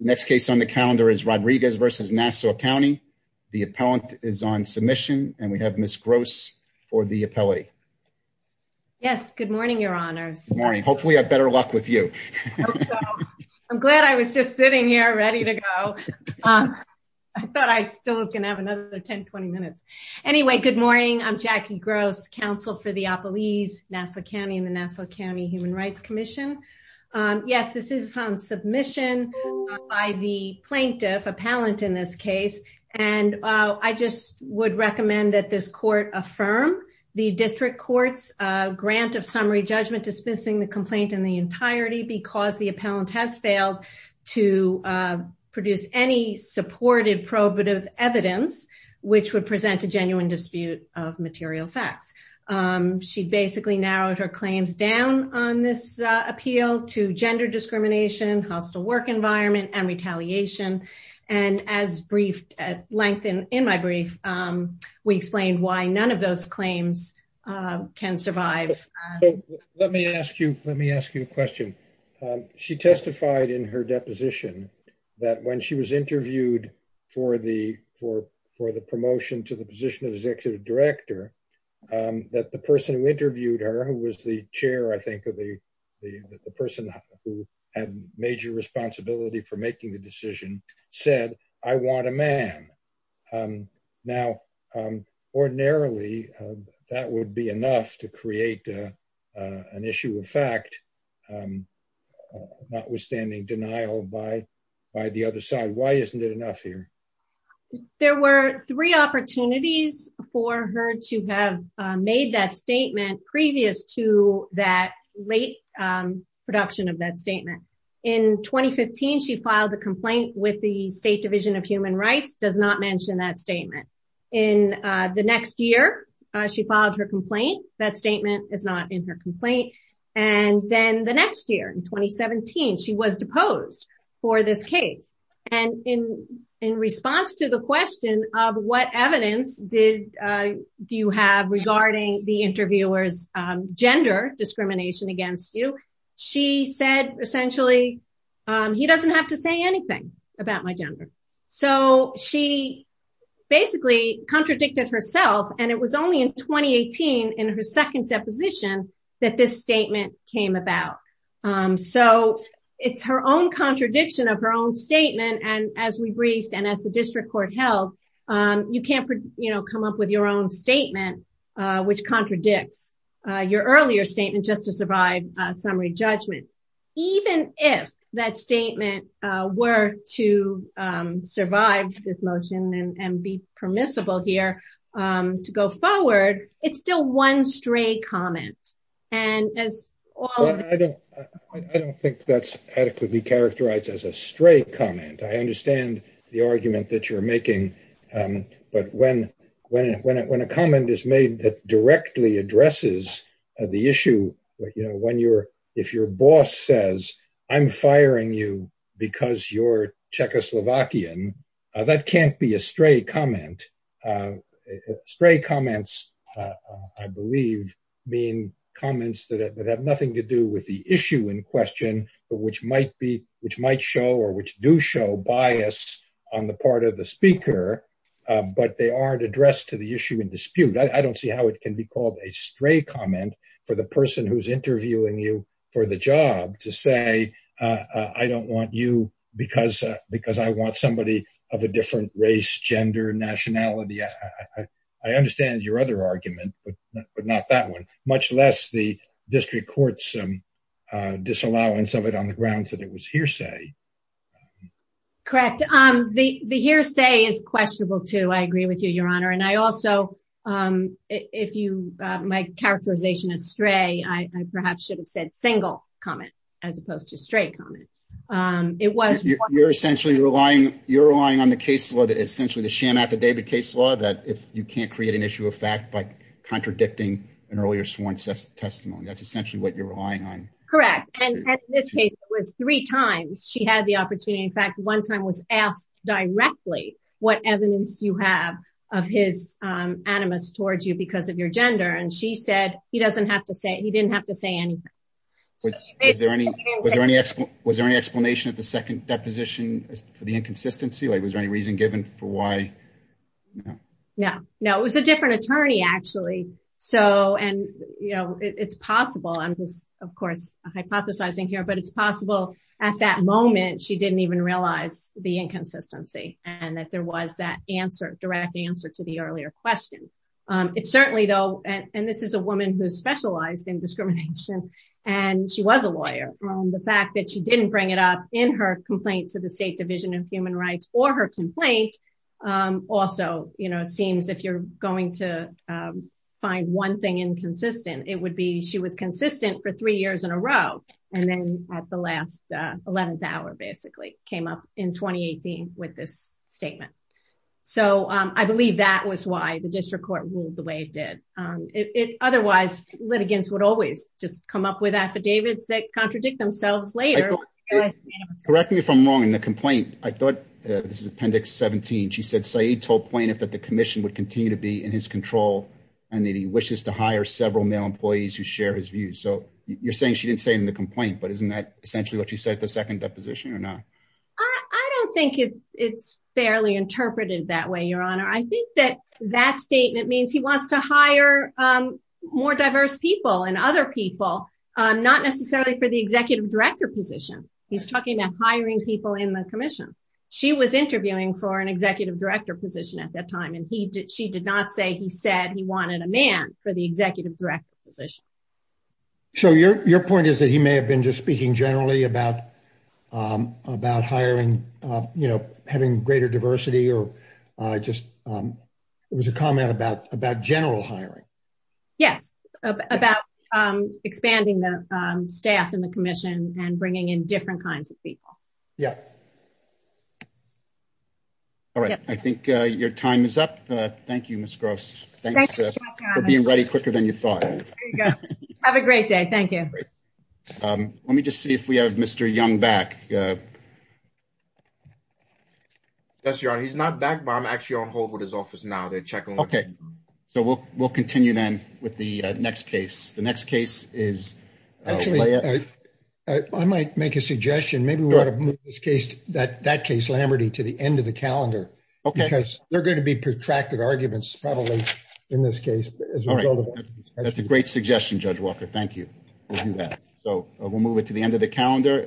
Next case on the calendar is Rodriguez v. Nassau County. The appellant is on submission and we have Ms. Gross for the appellate. Yes, good morning, your honors. Good morning. Hopefully I have better luck with you. I'm glad I was just sitting here ready to go. I thought I still was going to have another 10-20 minutes. Anyway, good morning. I'm Jackie Gross, counsel for the by the plaintiff, appellant in this case, and I just would recommend that this court affirm the district court's grant of summary judgment dismissing the complaint in the entirety because the appellant has failed to produce any supported probative evidence which would present a genuine dispute of material facts. She basically narrowed her claims down on this appeal to gender discrimination, hostile work environment, and retaliation, and as briefed at length in in my brief, we explained why none of those claims can survive. So let me ask you, let me ask you a question. She testified in her deposition that when she was interviewed for the for for the promotion to the position of executive director that the person who interviewed her who was the I think of the the the person who had major responsibility for making the decision said, I want a man. Now ordinarily that would be enough to create an issue of fact, notwithstanding denial by by the other side. Why isn't it enough here? There were three opportunities for her to have made that statement previous to that late production of that statement. In 2015 she filed a complaint with the state division of human rights, does not mention that statement. In the next year she filed her complaint, that statement is not in and then the next year in 2017 she was deposed for this case. And in in response to the question of what evidence did do you have regarding the interviewer's gender discrimination against you, she said essentially he doesn't have to say anything about my gender. So she basically contradicted herself and it was only in 2018 in her second deposition that this statement came about. So it's her own contradiction of her own statement and as we briefed and as the district court held you can't you know come up with your own statement which contradicts your earlier statement just to survive summary judgment. Even if that statement were to survive this motion and be permissible here to go forward it's still one stray comment and as well. I don't think that's adequately characterized as a stray comment. I understand the argument that you're making but when a comment is made that directly addresses the issue but you know when you're boss says I'm firing you because you're Czechoslovakian that can't be a stray comment. Stray comments I believe mean comments that have nothing to do with the issue in question but which might be which might show or which do show bias on the part of the speaker but they aren't addressed to the issue in dispute. I don't see how it can be called a stray comment for the job to say I don't want you because I want somebody of a different race, gender, nationality. I understand your other argument but not that one much less the district court's disallowance of it on the grounds that it was hearsay. Correct. The hearsay is questionable too. I agree with you your honor and I also if you my characterization is stray I perhaps should have said single comment as opposed to straight comment. You're relying on the case law that essentially the sham affidavit case law that if you can't create an issue of fact by contradicting an earlier sworn testimony that's essentially what you're relying on. Correct and in this case it was three times she had the animus towards you because of your gender and she said he doesn't have to say he didn't have to say anything. Was there any explanation at the second deposition for the inconsistency? Like was there any reason given for why? No it was a different attorney actually so and you know it's possible I'm just of course hypothesizing here but it's possible at that moment she didn't even realize the inconsistency and that there was that answer direct answer to the earlier question. It certainly though and this is a woman who specialized in discrimination and she was a lawyer. The fact that she didn't bring it up in her complaint to the state division of human rights or her complaint also you know seems if you're going to find one thing inconsistent it would be she was consistent for three years in a row and then at the last 11th hour basically came up with this statement. So I believe that was why the district court ruled the way it did. Otherwise litigants would always just come up with affidavits that contradict themselves later. Correct me if I'm wrong in the complaint. I thought this is appendix 17. She said Saeed told plaintiff that the commission would continue to be in his control and that he wishes to hire several male employees who share his views. So you're saying she didn't say in the complaint but isn't that essentially what she said at the second deposition or not? I don't think it's fairly interpreted that way your honor. I think that that statement means he wants to hire more diverse people and other people not necessarily for the executive director position. He's talking about hiring people in the commission. She was interviewing for an executive director position at that time and he did she did not say he said he wanted a man for the executive director position. So your point is that he may have been just speaking generally about hiring you know having greater diversity or just it was a comment about general hiring. Yes about expanding the staff in the commission and bringing in different kinds of people. Yeah. All right I think your time is up. Thank you Ms. Gross. Thanks for being ready quicker than you have a great day. Thank you. Let me just see if we have Mr. Young back. Yes your honor. He's not back but I'm actually on hold with his office now. They're checking. Okay so we'll we'll continue then with the next case. The next case is actually I might make a suggestion maybe we ought to move this case that that case Lamberty to the end of the calendar okay because they're going to be protracted arguments probably in this case. All right that's a great suggestion Judge Walker. Thank you. We'll do that. So we'll move it to the end of the calendar.